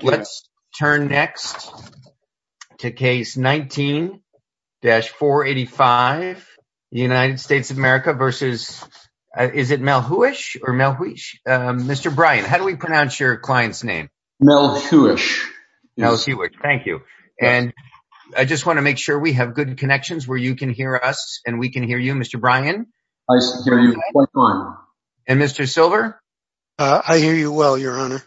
Let's turn next to case 19-485, United States of America versus, is it Melhuish or Melhuish? Mr. Bryan, how do we pronounce your client's name? Melhuish. Melhuish, thank you. And I just want to make sure we have good connections where you can hear us and we can hear you. Mr. Bryan? Nice to hear you. What's mine? And Mr. Silver? I hear you well, your honor.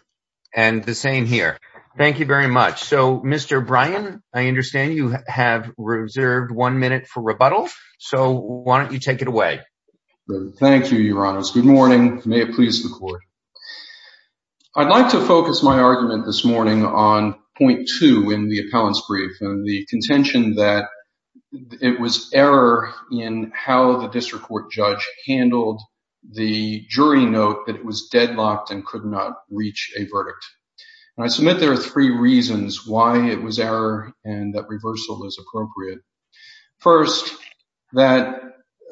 And the same here. Thank you very much. So, Mr. Bryan, I understand you have reserved one minute for rebuttal. So why don't you take it away? Thank you, your honor. Good morning. May it please the court. I'd like to focus my argument this morning on point two in the appellant's brief and the contention that it was error in how the district court judge handled the jury note that it was deadlocked and could not reach a verdict. And I submit there are three reasons why it was error and that reversal is appropriate. First, that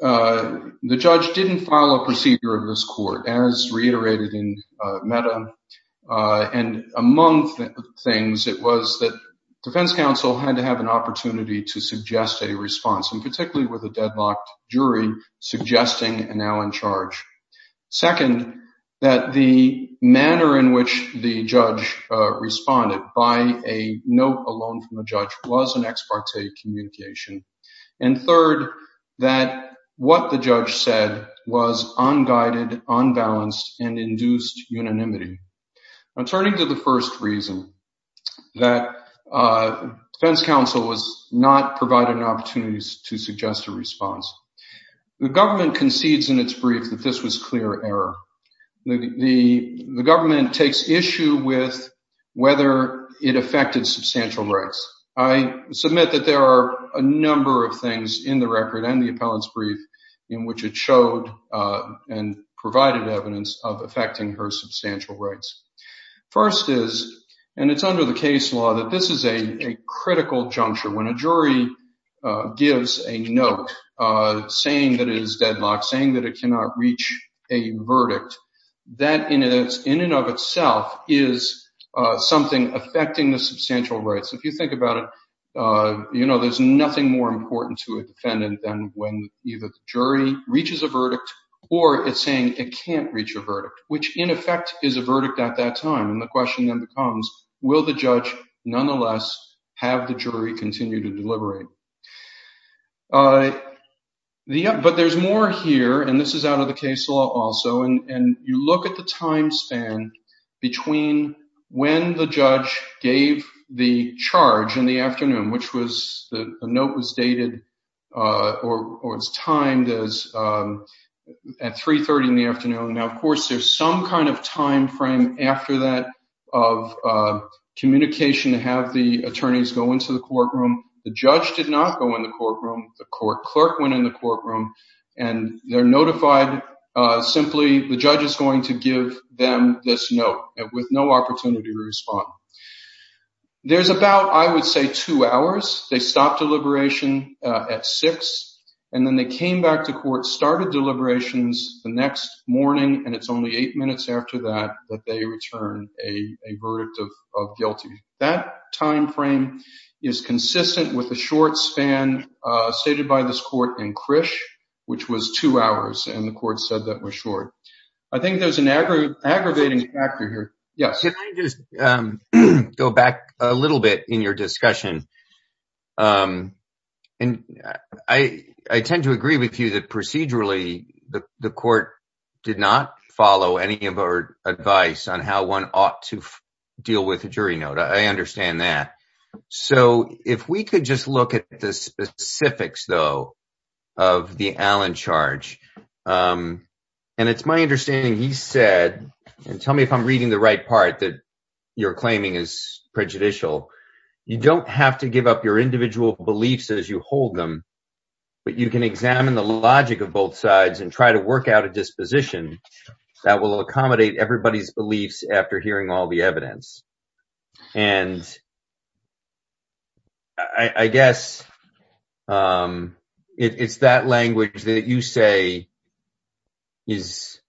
the judge didn't file a procedure of this court, as reiterated in Meta. And among things, it was that defense counsel had to have an opportunity to suggest a response, and particularly with a deadlocked jury suggesting and now in charge. Second, that the manner in which the judge responded by a note alone from the judge was an ex parte communication. And third, that what the judge said was unguided, unbalanced, and induced unanimity. I'm turning to the first reason that defense counsel was not provided an opportunity to suggest a response. The government concedes in its brief that this was clear error. The government takes issue with whether it affected substantial rights. I submit that there are a number of things in the record and the appellant's brief in which it showed and provided evidence of affecting her substantial rights. First is, and it's under the case law, that this is a critical juncture. When a jury gives a note saying that it is deadlocked, saying that it cannot reach a verdict, that in and of itself is something affecting the substantial rights. If you think about it, you know, there's nothing more important to a defendant than when either the jury reaches a verdict or it's saying it can't reach a verdict, which in effect is a verdict at that time. And the question then becomes, will the judge nonetheless have the jury continue to deliberate? But there's more here, and this is out of the case law also. And you look at the time span between when the judge gave the charge in the afternoon, which was the note was dated or it's timed as at three thirty in the afternoon. Now, of course, there's some kind of time frame after that of communication to have the attorneys go into the courtroom. The judge did not go in the courtroom. The court clerk went in the courtroom and they're notified simply the judge is going to give them this note with no opportunity to respond. There's about, I would say, two hours. They stopped deliberation at six and then they came back to court, started deliberations the next morning. And it's only eight minutes after that that they return a verdict of guilty. That time frame is consistent with the short span stated by this court in Krish, which was two hours. And the court said that was short. I think there's an aggravating factor here. Yes. Can I just go back a little bit in your discussion? And I tend to agree with you that procedurally the court did not follow any of our advice on how one ought to deal with a jury note. I understand that. So if we could just look at the specifics, though, of the Allen charge, and it's my understanding he said and tell me if I'm reading the right part that you're claiming is that you don't have to give up your individual beliefs as you hold them, but you can examine the logic of both sides and try to work out a disposition that will accommodate everybody's beliefs after hearing all the evidence. And I guess it's that language that you say is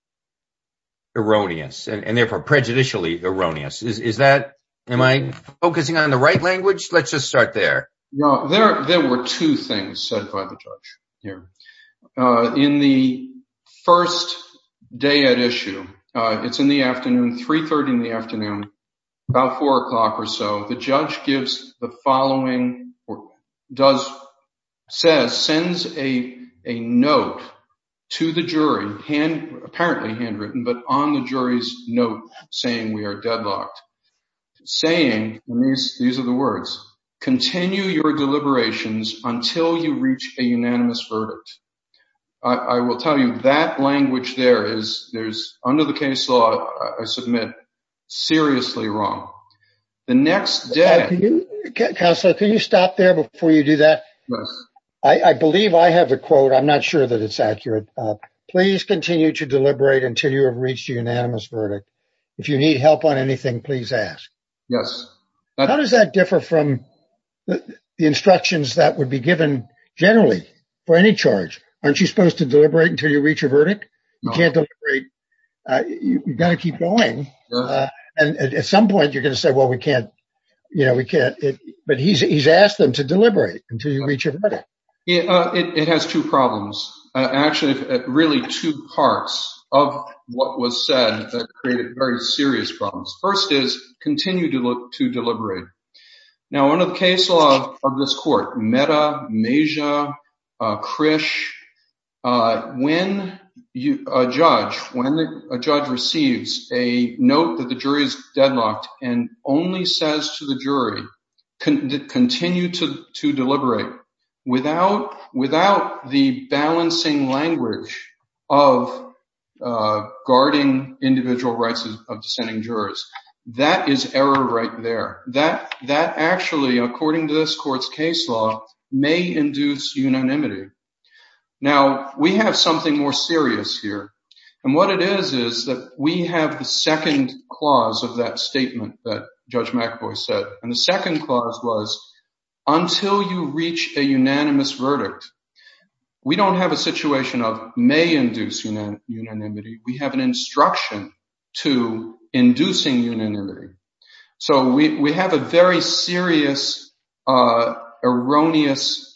erroneous and therefore prejudicially erroneous. Am I focusing on the right language? Let's just start there. No, there were two things said by the judge here. In the first day at issue, it's in the afternoon, three-third in the afternoon, about four o'clock or so. The judge gives the following, sends a note to the jury, apparently handwritten, but on the jury's note saying we are deadlocked, saying, these are the words, continue your deliberations until you reach a unanimous verdict. I will tell you that language there is under the case law, I submit, seriously wrong. The next day. Counselor, can you stop there before you do that? I believe I have a quote. I'm not sure that it's accurate. Please continue to deliberate until you have reached a unanimous verdict. If you need help on anything, please ask. Yes. How does that differ from the instructions that would be given generally for any charge? Aren't you supposed to deliberate until you reach a verdict? You can't deliberate. You got to keep going. And at some point you're going to say, well, we can't, you know, we can't. But he's asked them to deliberate until you reach a verdict. It has two problems. Actually, really two parts of what was said that created very serious problems. First is continue to look to deliberate. Now, under the case law of this court, Mehta, Mejia, Krish, when a judge receives a note that the jury is deadlocked and only says to the jury, continue to deliberate. Without the balancing language of guarding individual rights of dissenting jurors, that is error right there. That actually, according to this court's case law, may induce unanimity. Now, we have something more serious here. And what it is, is that we have the second clause of that statement that Judge McAvoy said. And the second clause was until you reach a unanimous verdict, we don't have a situation of may induce unanimity. We have an instruction to inducing unanimity. So we have a very serious, erroneous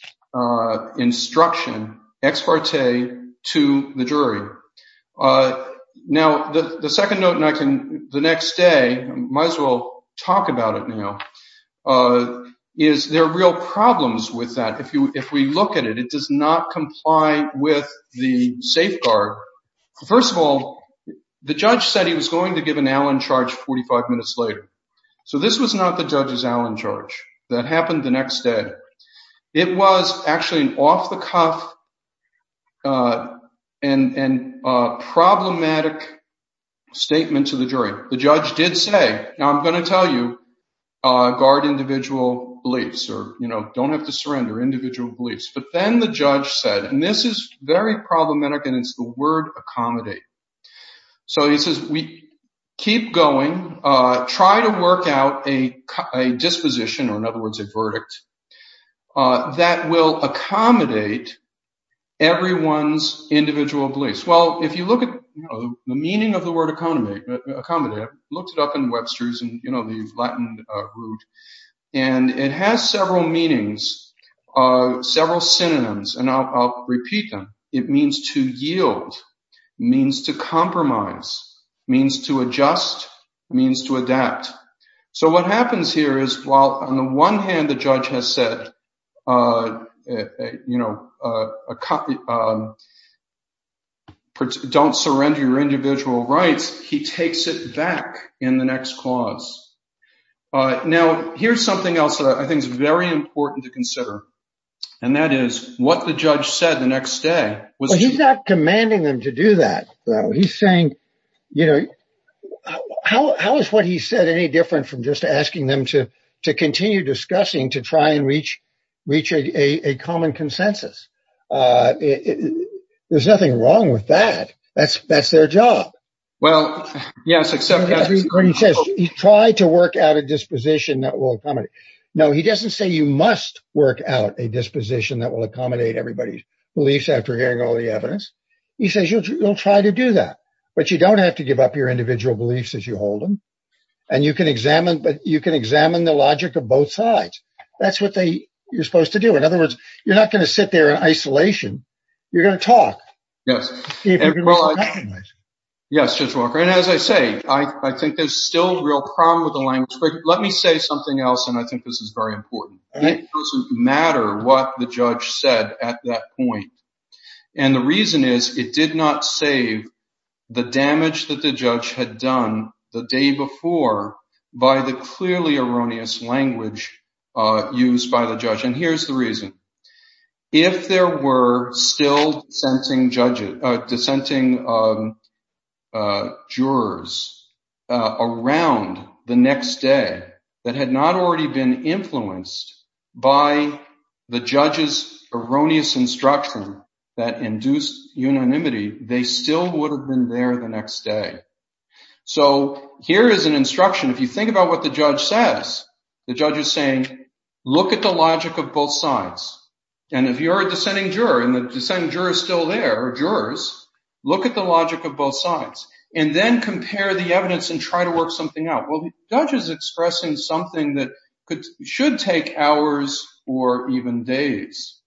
instruction, ex parte, to the jury. Now, the second note, and I can the next day might as well talk about it now. Is there real problems with that? If we look at it, it does not comply with the safeguard. First of all, the judge said he was going to give an Allen charge 45 minutes later. So this was not the judge's Allen charge. That happened the next day. It was actually an off the cuff and problematic statement to the jury. The judge did say, I'm going to tell you, guard individual beliefs or, you know, don't have to surrender individual beliefs. But then the judge said, and this is very problematic and it's the word accommodate. So he says, we keep going, try to work out a disposition or in other words, a verdict that will accommodate everyone's individual beliefs. Well, if you look at the meaning of the word accommodate, I looked it up in Webster's and, you know, the Latin root and it has several meanings, several synonyms. And I'll repeat them. It means to yield, means to compromise, means to adjust, means to adapt. So what happens here is while on the one hand, the judge has said, you know, don't surrender your individual rights, he takes it back in the next clause. Now, here's something else that I think is very important to consider. And that is what the judge said the next day. He's not commanding them to do that, though. He's saying, you know, how is what he said any different from just asking them to to continue discussing, to try and reach a common consensus? There's nothing wrong with that. That's that's their job. Well, yes, except he says he tried to work out a disposition that will accommodate. No, he doesn't say you must work out a disposition that will accommodate everybody's beliefs after hearing all the evidence. He says you'll try to do that, but you don't have to give up your individual beliefs as you hold them. And you can examine but you can examine the logic of both sides. That's what you're supposed to do. In other words, you're not going to sit there in isolation. You're going to talk. Yes. Yes, Judge Walker. And as I say, I think there's still a real problem with the language. Let me say something else. And I think this is very important. It doesn't matter what the judge said at that point. And the reason is it did not save the damage that the judge had done the day before by the clearly erroneous language used by the judge. And here's the reason. If there were still dissenting judges, dissenting jurors around the next day that had not already been influenced by the judge's erroneous instruction that induced unanimity, they still would have been there the next day. So here is an instruction. If you think about what the judge says, the judge is saying, look at the logic of both sides. And if you're a dissenting juror and the dissenting jurors still there, look at the logic of both sides and then compare the evidence and try to work something out. Well, the judge is expressing something that should take hours or even days.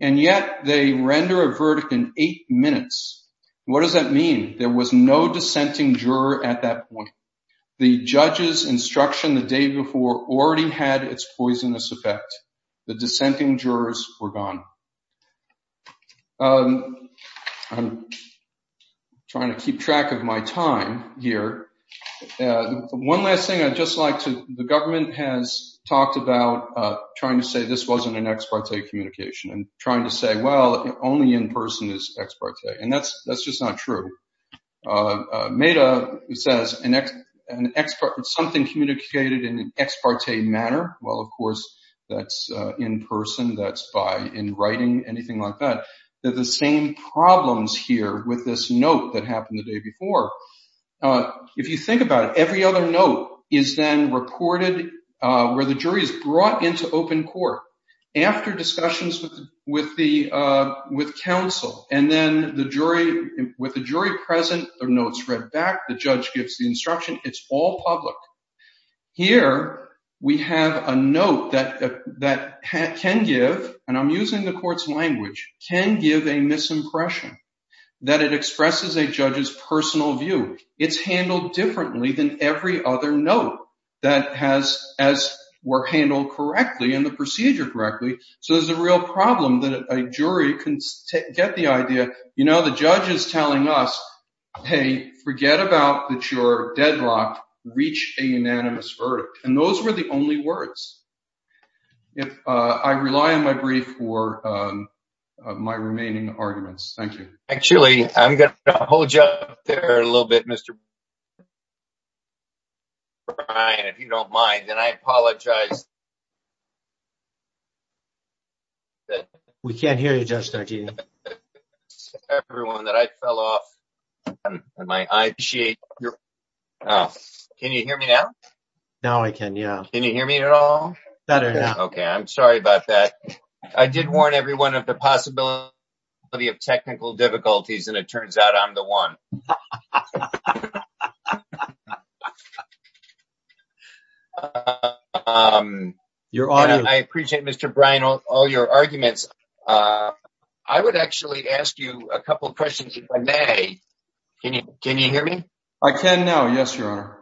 And yet they render a verdict in eight minutes. What does that mean? There was no dissenting juror at that point. The judge's instruction the day before already had its poisonous effect. The dissenting jurors were gone. I'm trying to keep track of my time here. One last thing I'd just like to the government has talked about trying to say this wasn't an ex parte communication and trying to say, well, only in person is ex parte. And that's that's just not true. Meda says an expert, something communicated in an ex parte manner. Well, of course, that's in person. That's by in writing, anything like that. They're the same problems here with this note that happened the day before. If you think about it, every other note is then reported where the jury is brought into open court after discussions with the with counsel. And then the jury with the jury present their notes read back. The judge gives the instruction. It's all public. Here we have a note that that can give and I'm using the court's language can give a misimpression that it expresses a judge's personal view. It's handled differently than every other note that has as were handled correctly in the procedure correctly. So there's a real problem that a jury can get the idea. You know, the judge is telling us, hey, forget about that. You're deadlocked. Reach a unanimous verdict. And those were the only words. If I rely on my brief for my remaining arguments, thank you. Actually, I'm going to hold you up there a little bit, Mr. Brian, if you don't mind, then I apologize. That we can't hear you, Judge, everyone that I fell off and my eye. Can you hear me now? Now I can. Yeah. Can you hear me at all? Better. OK, I'm sorry about that. I did warn everyone of the possibility of technical difficulties, and it turns out I'm the one. I appreciate, Mr. Brian, all your arguments. I would actually ask you a couple of questions if I may. Can you can you hear me? I can now. Yes, your honor.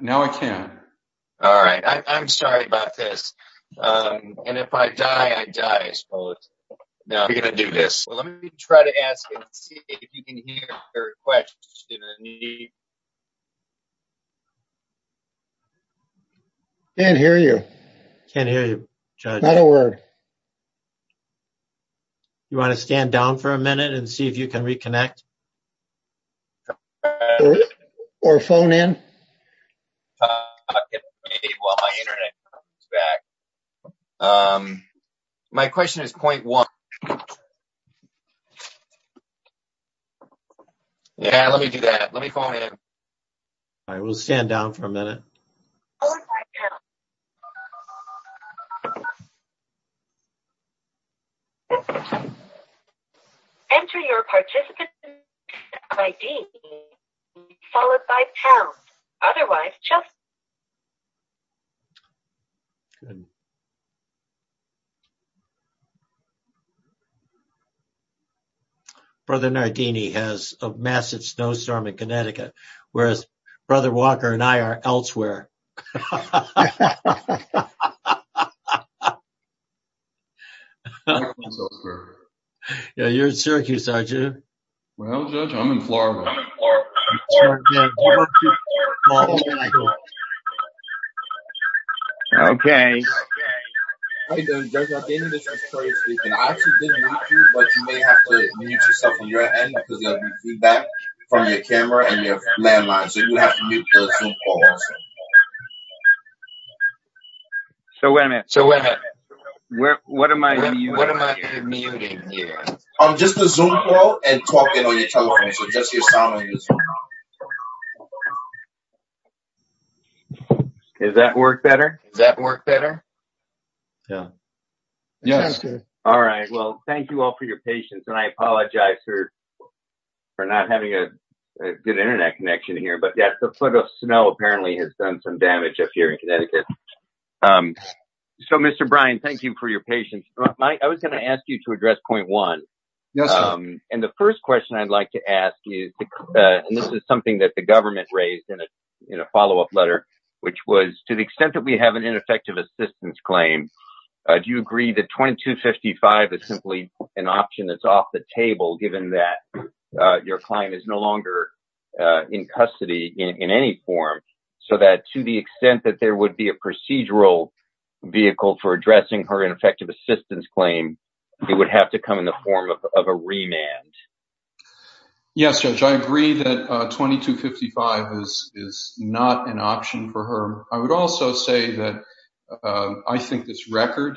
Now I can. All right. I'm sorry about this. And if I die, I die. Now, we're going to do this. Well, let me try to ask if you can hear your question. Can't hear you. Can't hear you, Judge. Not a word. You want to stand down for a minute and see if you can reconnect? Or phone in. My question is point one. Yeah, let me do that. Let me call in. I will stand down for a minute. Oh, my God. Enter your participant ID followed by pound. Otherwise, just. Good. Brother Nardini has a massive snowstorm in Connecticut, whereas Brother Walker and I are elsewhere. Yeah, you're in Syracuse, aren't you? Well, I'm in Florida. Okay. Okay. So, wait a minute. So, what am I doing? You what am I doing? Muting? Yeah, I'm just a zoom call and talking on your telephone. Does that work better? Does that work better? Yeah. Yes. All right. Well, thank you all for your patience. And I apologize for not having a good Internet connection here. But yeah, the foot of snow apparently has done some damage up here in Connecticut. So, Mr. Brian, thank you for your patience. I was going to ask you to address point one. And the first question I'd like to ask you, and this is something that the government raised in a follow up letter, which was to the extent that we have an ineffective assistance claim. Do you agree that 2255 is simply an option that's off the table, given that your client is no longer in custody in any form? So that to the extent that there would be a procedural vehicle for addressing her ineffective assistance claim, it would have to come in the form of a remand. Yes, Judge. I agree that 2255 is not an option for her. I would also say that I think this record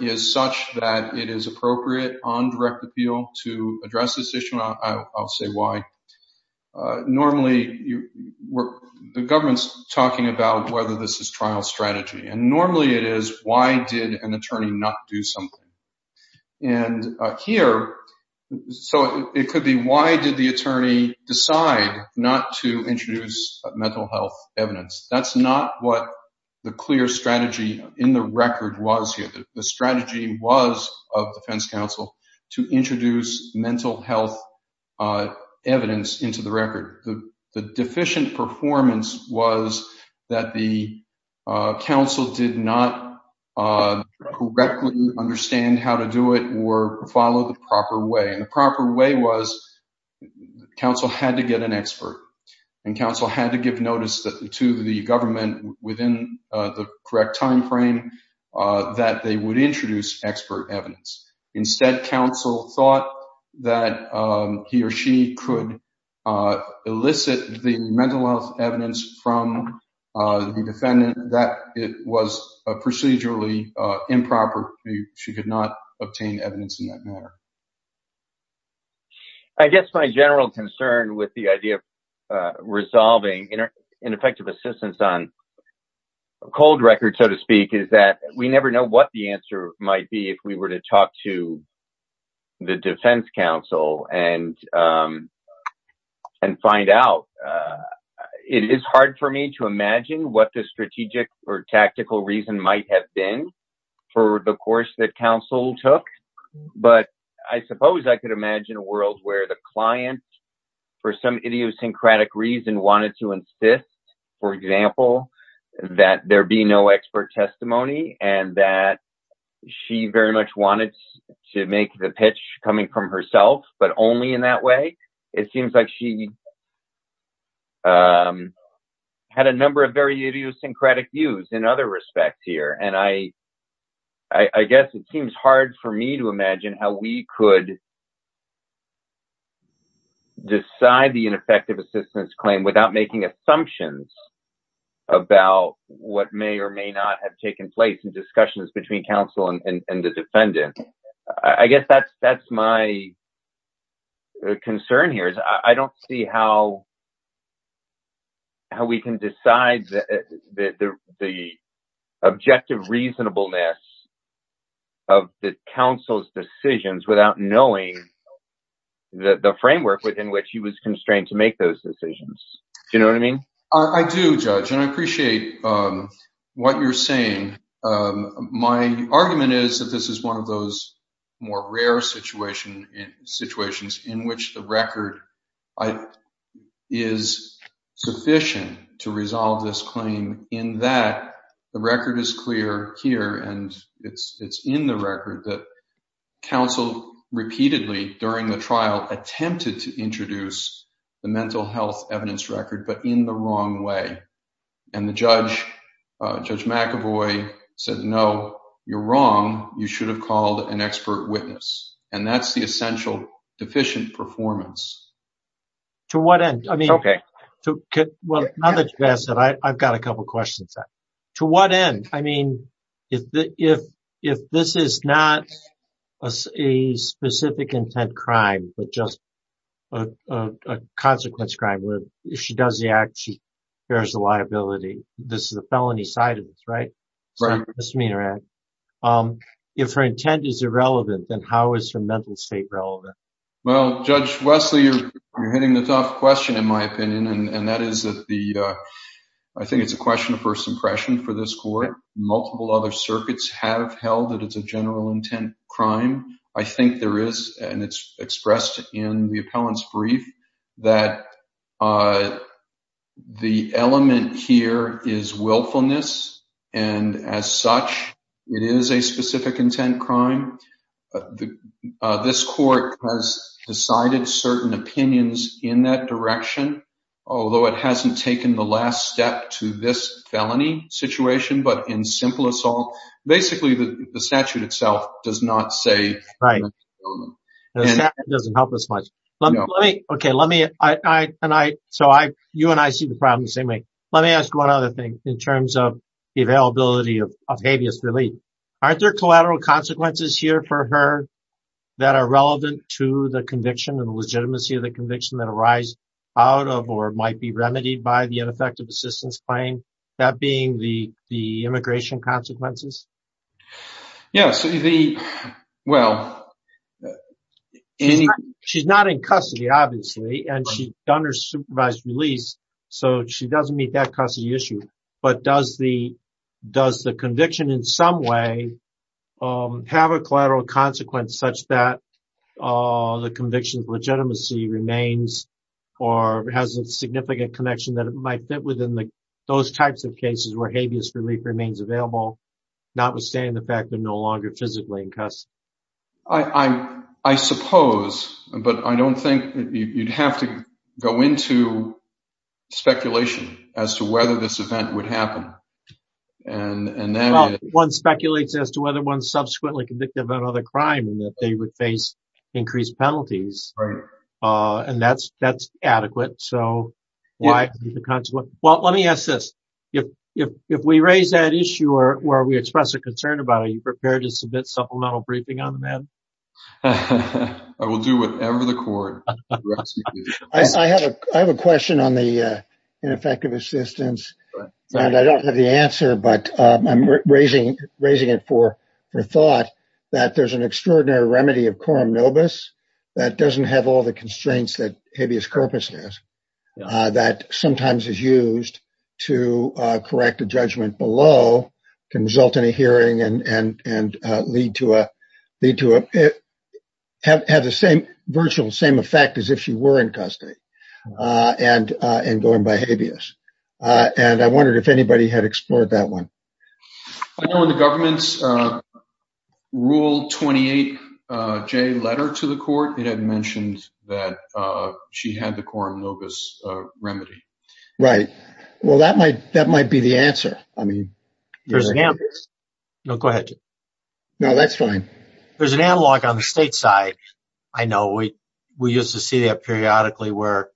is such that it is appropriate on direct appeal to address this issue. I'll say why. Normally, the government's talking about whether this is trial strategy, and normally it is why did an attorney not do something? And here, so it could be why did the attorney decide not to introduce mental health evidence? That's not what the clear strategy in the record was here. The strategy was of defense counsel to introduce mental health evidence into the record. The deficient performance was that the counsel did not correctly understand how to do it or follow the proper way. And the proper way was counsel had to get an expert. And counsel had to give notice to the government within the correct time frame that they would introduce expert evidence. Instead, counsel thought that he or she could elicit the mental health evidence from the defendant that it was procedurally improper. She could not obtain evidence in that manner. I guess my general concern with the idea of resolving ineffective assistance on a cold record, so to speak, is that we never know what the answer might be if we were to talk to the defense counsel and find out. It is hard for me to imagine what the strategic or tactical reason might have been for the course that counsel took. But I suppose I could imagine a world where the client, for some idiosyncratic reason, wanted to insist, for example, that there be no expert testimony and that she very much wanted to make the pitch coming from herself, but only in that way. It seems like she had a number of very idiosyncratic views in other respects here. I guess it seems hard for me to imagine how we could decide the ineffective assistance claim without making assumptions about what may or may not have taken place in discussions between counsel and the defendant. I guess that is my concern here. I do not see how we can decide the objective reasonableness of the counsel's decisions without knowing the framework within which he was constrained to make those decisions. Do you know what I mean? I do, Judge, and I appreciate what you are saying. My argument is that this is one of those more rare situations in which the record is sufficient to resolve this claim in that the record is clear here, and it is in the record that counsel repeatedly during the trial attempted to introduce the mental health evidence record, but in the wrong way. And Judge McEvoy said, no, you are wrong. You should have called an expert witness. And that is the essential deficient performance. To what end? I have got a couple of questions. To what end? If this is not a specific intent crime, but just a consequence crime where if she does the act, she bears the liability, this is the felony side of it, right? If her intent is irrelevant, then how is her mental state relevant? Well, Judge Wesley, you are hitting the tough question, in my opinion, and that is that I think it is a question of first impression for this court. Multiple other circuits have held that it is a general intent crime. I think there is, and it is expressed in the appellant's brief, that the element here is willfulness, and as such, it is a specific intent crime. This court has decided certain opinions in that direction, although it has not taken the last step to this felony situation, but in simple assault. Basically, the statute itself does not say. Right. The statute does not help us much. You and I see the problem the same way. Let me ask one other thing in terms of the availability of habeas relief. Aren't there collateral consequences here for her that are relevant to the conviction and the legitimacy of the conviction that arise out of or might be remedied by the ineffective assistance claim, that being the immigration consequences? She is not in custody, obviously, and she has done her supervised release, so she does not meet that custody issue, but does the conviction in some way have a collateral consequence such that the conviction's legitimacy remains or has a significant connection that it might fit within those types of cases where habeas relief remains available, notwithstanding the fact that no longer physically in custody? I suppose, but I don't think you'd have to go into speculation as to whether this event would happen. One speculates as to whether one subsequently convicted of another crime and that they would increase penalties, and that's adequate. Let me ask this, if we raise that issue or we express a concern about it, are you prepared to submit supplemental briefing on the matter? I will do whatever the court requests me to do. I have a question on the ineffective assistance, and I don't have the answer, but I'm raising it for thought, that there's an extraordinary remedy of coram nobis that doesn't have all the constraints that habeas corpus has, that sometimes is used to correct a judgment below, can result in a hearing, and have the same virtual same effect as if she were in custody and going by habeas, and I wondered if anybody had explored that one. I know in the government's rule 28J letter to the court, it had mentioned that she had the coram nobis remedy. Right, well, that might be the answer. Go ahead. No, that's fine. There's an analog on the state side. I know we used to see that periodically where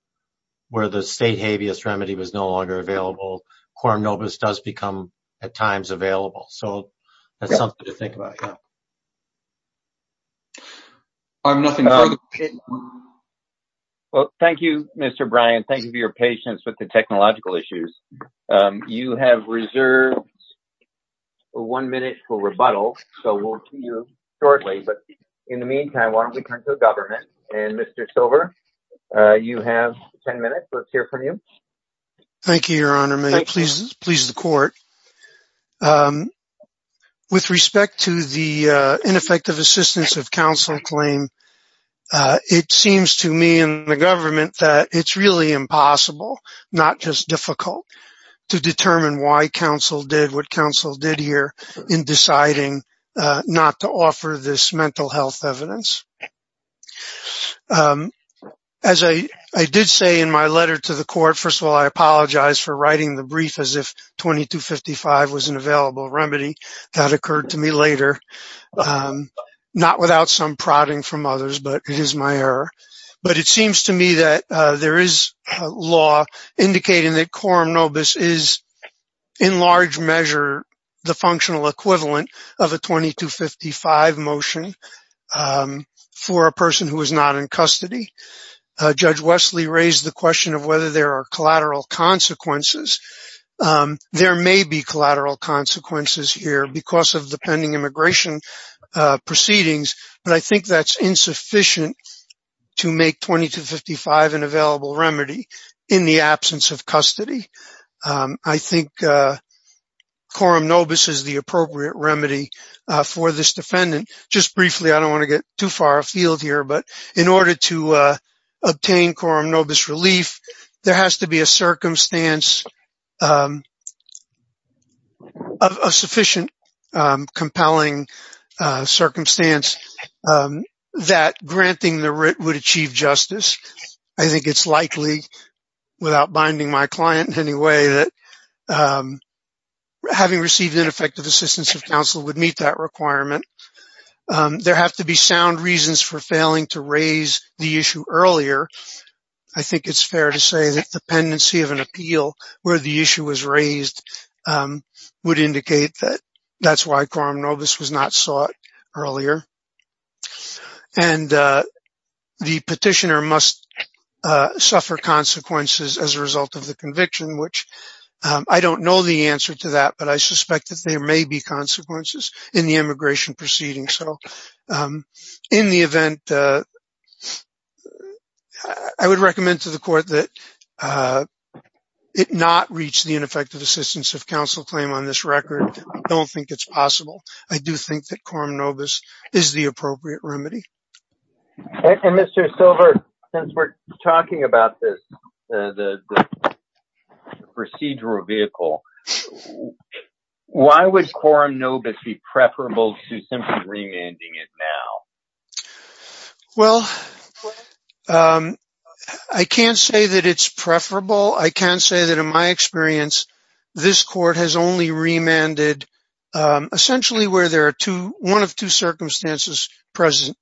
the state habeas remedy was no longer available. Coram nobis does become, at times, available. So that's something to think about. Well, thank you, Mr. Bryan. Thank you for your patience with the technological issues. You have reserved one minute for rebuttal, so we'll see you shortly, but in the meantime, why don't we turn to the government, and Mr. Silver, you have 10 minutes. Let's hear from you. Thank you, Your Honor. May it please the court. With respect to the ineffective assistance of counsel claim, it seems to me in the government that it's really impossible, not just difficult, to determine why counsel did what counsel did here in deciding not to offer this mental health evidence. As I did say in my letter to the court, first of all, I apologize for writing the brief as if 2255 was an available remedy. That occurred to me later, not without some prodding from others, but it is my error. But it seems to me that there is a law indicating that coram nobis is, in large measure, the functional equivalent of a 2255 motion for a person who is not in custody. Judge Wesley raised the question of whether there are collateral consequences. There may be collateral consequences here because of the pending immigration proceedings, but I think that's insufficient to make 2255 an available remedy in the absence of custody. I think coram nobis is the appropriate remedy for this defendant. Just briefly, I don't want to get too far afield here, but in order to obtain coram nobis relief, there has to be a sufficient compelling circumstance that granting the writ would achieve justice. I think it's likely, without binding my client in any way, that having received ineffective assistance of counsel would meet that requirement. There have to be sound reasons for failing to raise the issue earlier. I think it's fair to say that the pendency of an appeal where the issue was raised would indicate that that's why coram nobis was not sought earlier. And the petitioner must suffer consequences as a result of the conviction, which I don't know the answer to that, but I suspect that there may be consequences in the immigration proceedings. In the event, I would recommend to the court that it not reach the ineffective assistance of counsel claim on this record. I don't think it's possible. I do think that coram nobis is the appropriate remedy. And Mr. Silver, since we're talking about this procedural vehicle, why would coram nobis be preferable to simply remanding it now? Well, I can't say that it's preferable. I can say that in my experience, this court has only remanded essentially where there are one of two circumstances present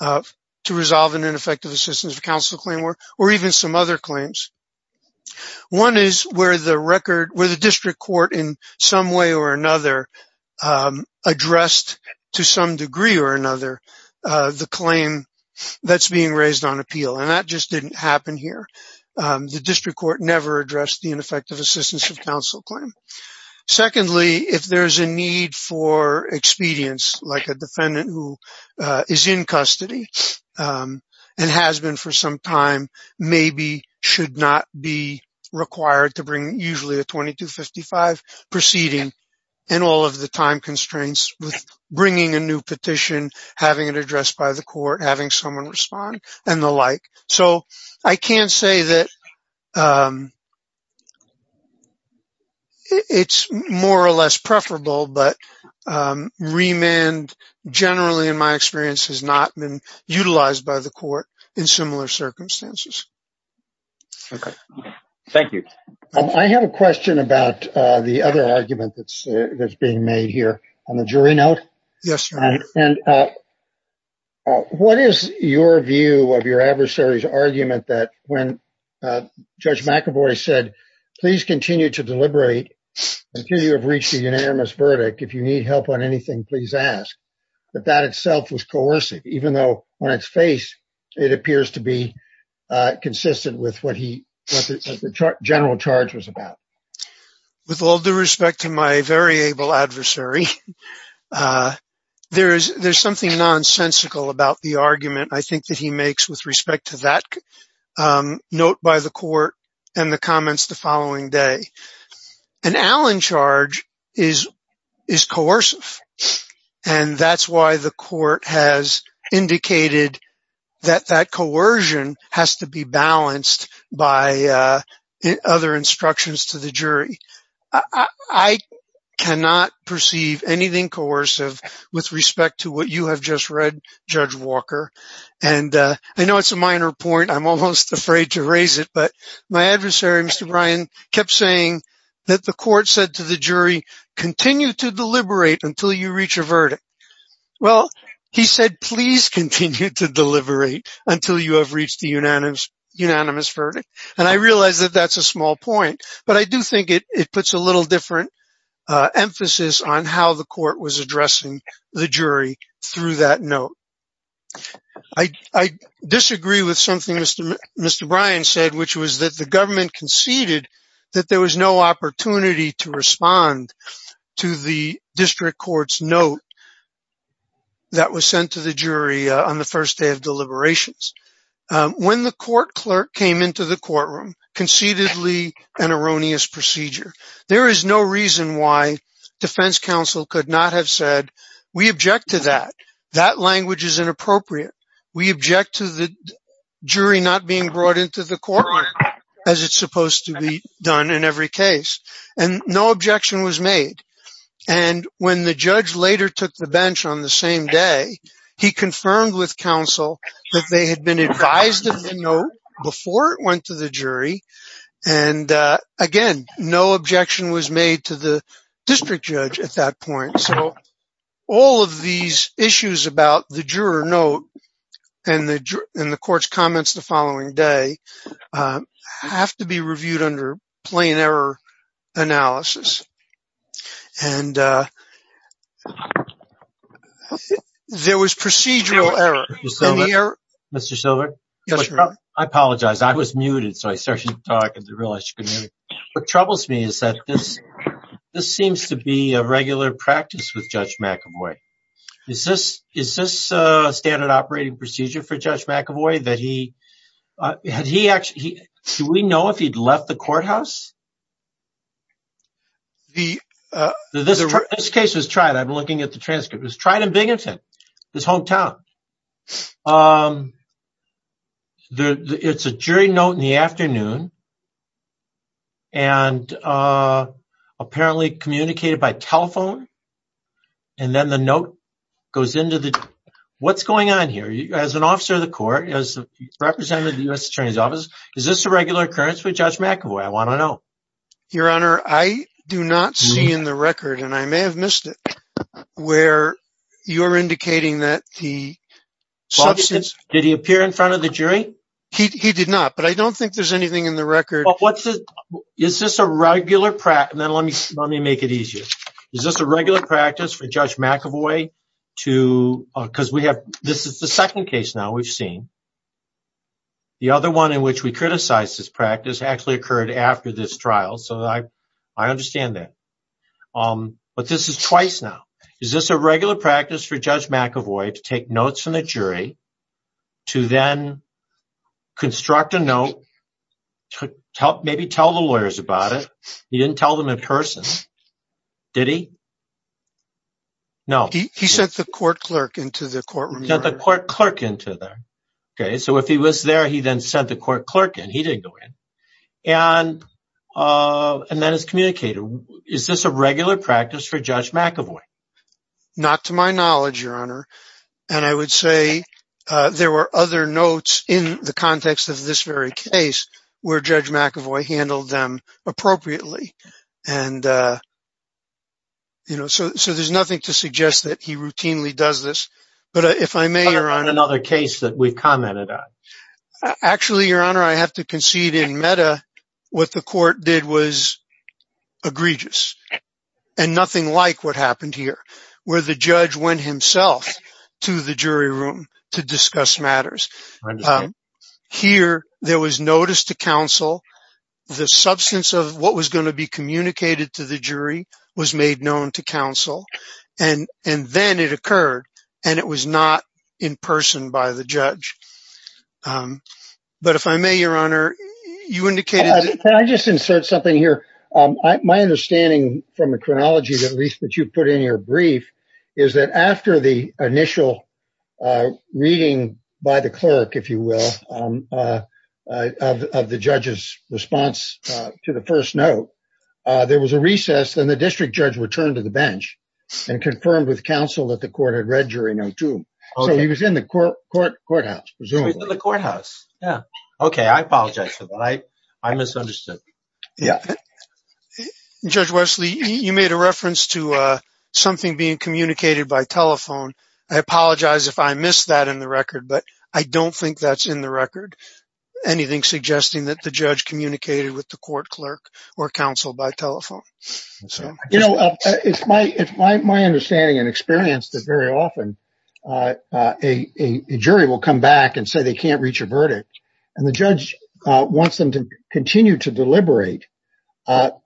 to resolve an ineffective assistance of counsel claim or even some other claims. One is where the district court in some way or another addressed to some degree or another the claim that's being raised on appeal. And that just didn't happen here. The district court never addressed the ineffective assistance of counsel claim. Secondly, if there's a need for expedience, like a defendant who is in custody and has been for some time, maybe should not be required to bring usually a 2255 proceeding and all of the time constraints with bringing a new petition, having it addressed by the court, having someone respond and the like. So I can't say that it's more or less preferable, but remand generally, in my experience, has not been utilized by the court in similar circumstances. Okay. Thank you. I have a question about the other argument that's being made here on the jury note. Yes, sir. And what is your view of your adversary's argument that when Judge McEvoy said, please continue to deliberate until you have reached a unanimous verdict. If you need help on anything, please ask. But that itself was coercive, even though on its face, it appears to be consistent with what the general charge was about. With all due respect to my very able adversary, there's something nonsensical about the argument, I think, that he makes with respect to that note by the court and the comments the following day. An Allen charge is coercive, and that's why the court has indicated that that coercion has to be balanced by other instructions to the jury. I cannot perceive anything coercive with respect to what you have just read, Judge Walker. And I know it's a minor point. I'm almost afraid to raise it. But my adversary, Mr. Bryan, kept saying that the court said to the jury, continue to deliberate until you reach a verdict. Well, he said, please continue to deliberate until you have reached a unanimous verdict. And I realize that that's a small point. But I do think it puts a little different emphasis on how the court was addressing the jury through that note. I disagree with something Mr. Bryan said, which was that the government conceded that there was no opportunity to respond to the district court's note that was sent to the jury on the first day of deliberations. When the court clerk came into the courtroom, concededly an erroneous procedure. There is no reason why defense counsel could not have said, we object to that. That language is inappropriate. We object to the jury not being brought into the courtroom, as it's supposed to be done in every case. And no objection was made. And when the judge later took the bench on the same day, he confirmed with counsel that they had been advised of the note before it went to the jury. And again, no objection was made to the district judge at that point. So all of these issues about the juror note and the court's comments the following day have to be reviewed under plain error analysis. And there was procedural error. Mr. Silver? Yes, sir. I apologize. I was muted. So I started talking to realize you couldn't hear me. What troubles me is that this seems to be a regular practice with Judge McEvoy. Is this a standard operating procedure for Judge McEvoy that he had he actually, do we know if he'd left the courthouse? This case was tried. I've been looking at the transcript. It was tried in Binghamton, his hometown. It's a jury note in the afternoon, and apparently communicated by telephone. And then the note goes into the... What's going on here? As an officer of the court, as a representative of the U.S. Attorney's Office, is this a regular occurrence with Judge McEvoy? I want to know. Your Honor, I do not see in the record, and I may have missed it, where you're indicating that the substance... Did he appear in front of the jury? He did not, but I don't think there's anything in the record. Is this a regular practice? And then let me make it easier. Is this a regular practice for Judge McEvoy? Because this is the second case now we've seen. The other one in which we criticize this practice actually occurred after this trial, so I understand that. But this is twice now. Is this a regular practice for Judge McEvoy to take notes from the jury, to then construct a note, maybe tell the lawyers about it? He didn't tell them in person. Did he? No. He sent the court clerk into the courtroom. The court clerk into there. Okay. So if he was there, he then sent the court clerk in. He didn't go in. And then his communicator. Is this a regular practice for Judge McEvoy? Not to my knowledge, Your Honor. And I would say there were other notes in the context of this very case where Judge McEvoy handled them appropriately. And so there's nothing to suggest that he routinely does this. But if I may, Your Honor. Another case that we've commented on. Actually, Your Honor, I have to concede in meta, what the court did was egregious. And nothing like what happened here, where the judge went himself to the jury room to discuss matters. Here, there was notice to counsel. The substance of what was going to be communicated to the jury was made known to counsel. And then it occurred. And it was not in person by the judge. But if I may, Your Honor, you indicated. Can I just insert something here? My understanding from the chronology, at least, that you put in your brief, is that after the initial reading by the clerk, if you will, of the judge's response to the first note, there was a recess. Then the district judge returned to the bench and confirmed with counsel that the court had read jury note two. So he was in the courthouse, presumably. In the courthouse. Yeah. Okay. I apologize for that. I misunderstood. Judge Wesley, you made a reference to something being communicated by telephone. I apologize if I missed that in the record, but I don't think that's in the record. Anything suggesting that the judge communicated with the court clerk or counsel by telephone. You know, it's my understanding and experience that very often a jury will come back and say they can't reach a verdict. And the judge wants them to continue to deliberate, but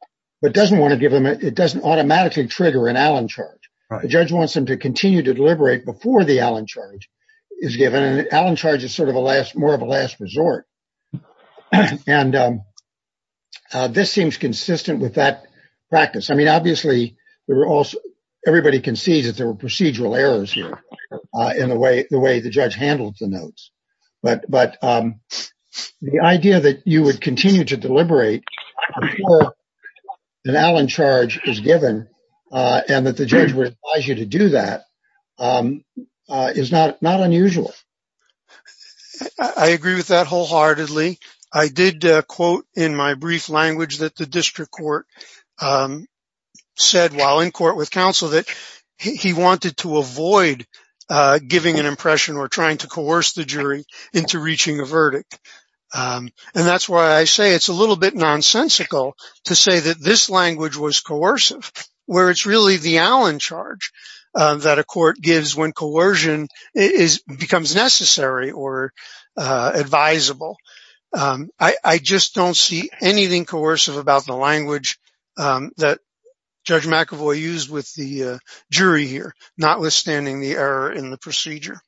doesn't want to give them, it doesn't automatically trigger an Allen charge. The judge wants them to continue to deliberate before the Allen charge is given. And an Allen charge is sort of a last, more of a last resort. And this seems consistent with that practice. I mean, obviously there were also, everybody concedes that there were procedural errors here in the way, the way the judge handled the notes. But, but the idea that you would continue to deliberate an Allen charge is given and that the judge would advise you to do that is not unusual. I agree with that wholeheartedly. I did a quote in my brief language that the district court said while in court with counsel that he wanted to avoid giving an impression or trying to coerce the jury into reaching a verdict. And that's why I say it's a little bit nonsensical to say that this language was coercive, where it's really the Allen charge that a court gives when coercion becomes necessary or advisable. I just don't see anything coercive about the language that Judge McEvoy used with the jury here, notwithstanding the error in the procedure.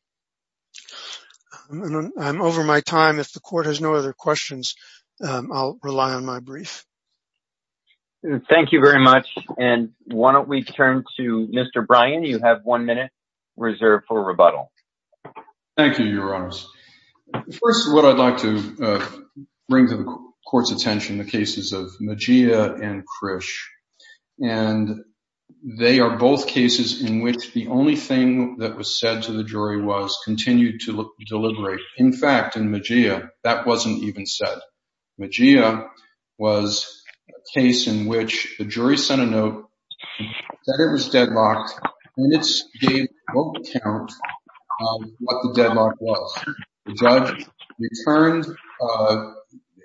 I'm over my time. If the court has no other questions, I'll rely on my brief. Thank you very much. And why don't we turn to Mr. Brian, you have one minute reserved for rebuttal. Thank you, Your Honors. First of all, I'd like to bring to the court's attention the cases of Magia and Krish. And they are both cases in which the only thing that was said to the jury was continue to deliberate. In fact, in Magia, that wasn't even said. Magia was a case in which the jury sent a note that it was deadlocked, and it gave a vote count of what the deadlock was. The judge returned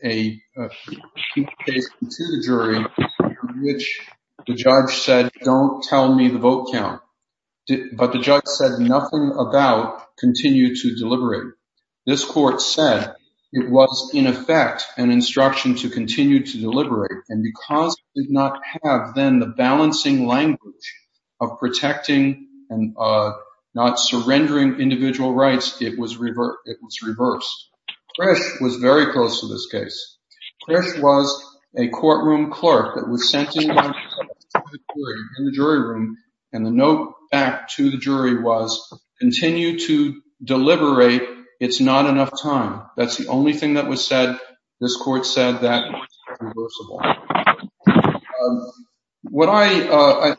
a case to the jury in which the judge said, don't tell me the vote count. But the judge said nothing about continue to deliberate. This court said it was, in effect, an instruction to continue to deliberate, and because it did not have then the balancing language of protecting and not surrendering individual rights, it was reversed. Krish was very close to this case. Krish was a courtroom clerk that was sent in the jury room, and the note back to the jury was continue to deliberate. It's not enough time. That's the only thing that was said. This court said that was reversible.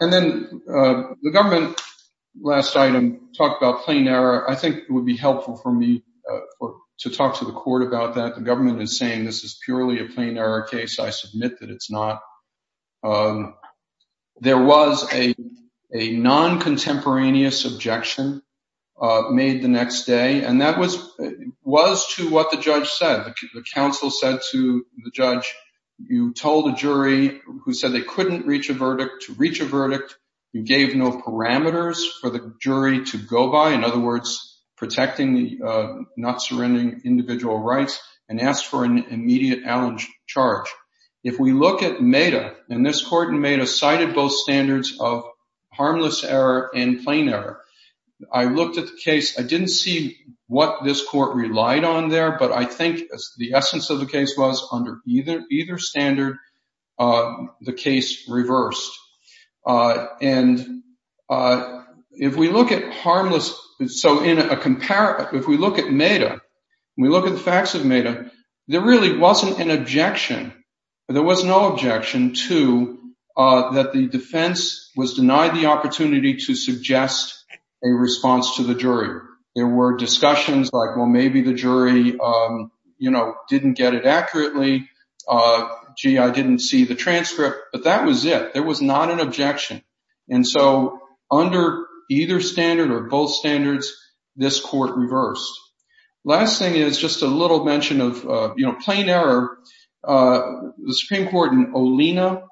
And then the government, last item, talked about plain error. I think it would be helpful for me to talk to the court about that. The government is saying this is purely a plain error case. I think there was a non-contemporaneous objection made the next day, and that was to what the judge said. The counsel said to the judge, you told a jury who said they couldn't reach a verdict to reach a verdict. You gave no parameters for the jury to go by, in other words, protecting the not surrendering individual rights, and asked for an immediate charge. If we look at MEDA, and this court in MEDA cited both standards of harmless error and plain error. I looked at the case. I didn't see what this court relied on there, but I think the essence of the case was under either standard, the case reversed. And if we look at harmless, so if we look at MEDA, we look at the facts of MEDA, there really wasn't an objection. There was no objection to that the defense was denied the opportunity to suggest a response to the jury. There were discussions like, well, maybe the jury didn't get it accurately. Gee, I didn't see the transcript, but that was it. There was not an objection. And so under either standard or both standards, this court reversed. Last thing is just a little mention of plain error. The Supreme Court in Olena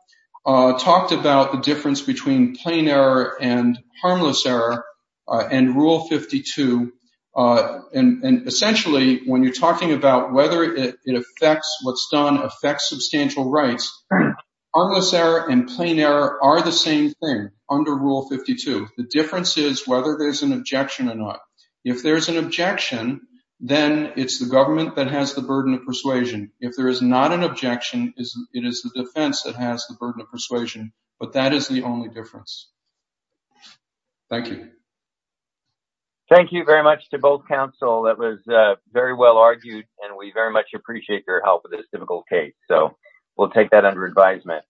talked about the difference between plain error and harmless error and Rule 52. And essentially, when you're talking about whether it affects what's done, affects substantial rights, harmless error and plain error are the same thing under Rule 52. The difference is whether there's an objection or not. If there's an objection, then it's the government that has the burden of persuasion. If there is not an objection, it is the defense that has the burden of persuasion, but that is the only difference. Thank you. Thank you very much to both counsel. That was very well argued, and we very much appreciate your help with this difficult case. So we'll take that under advisement.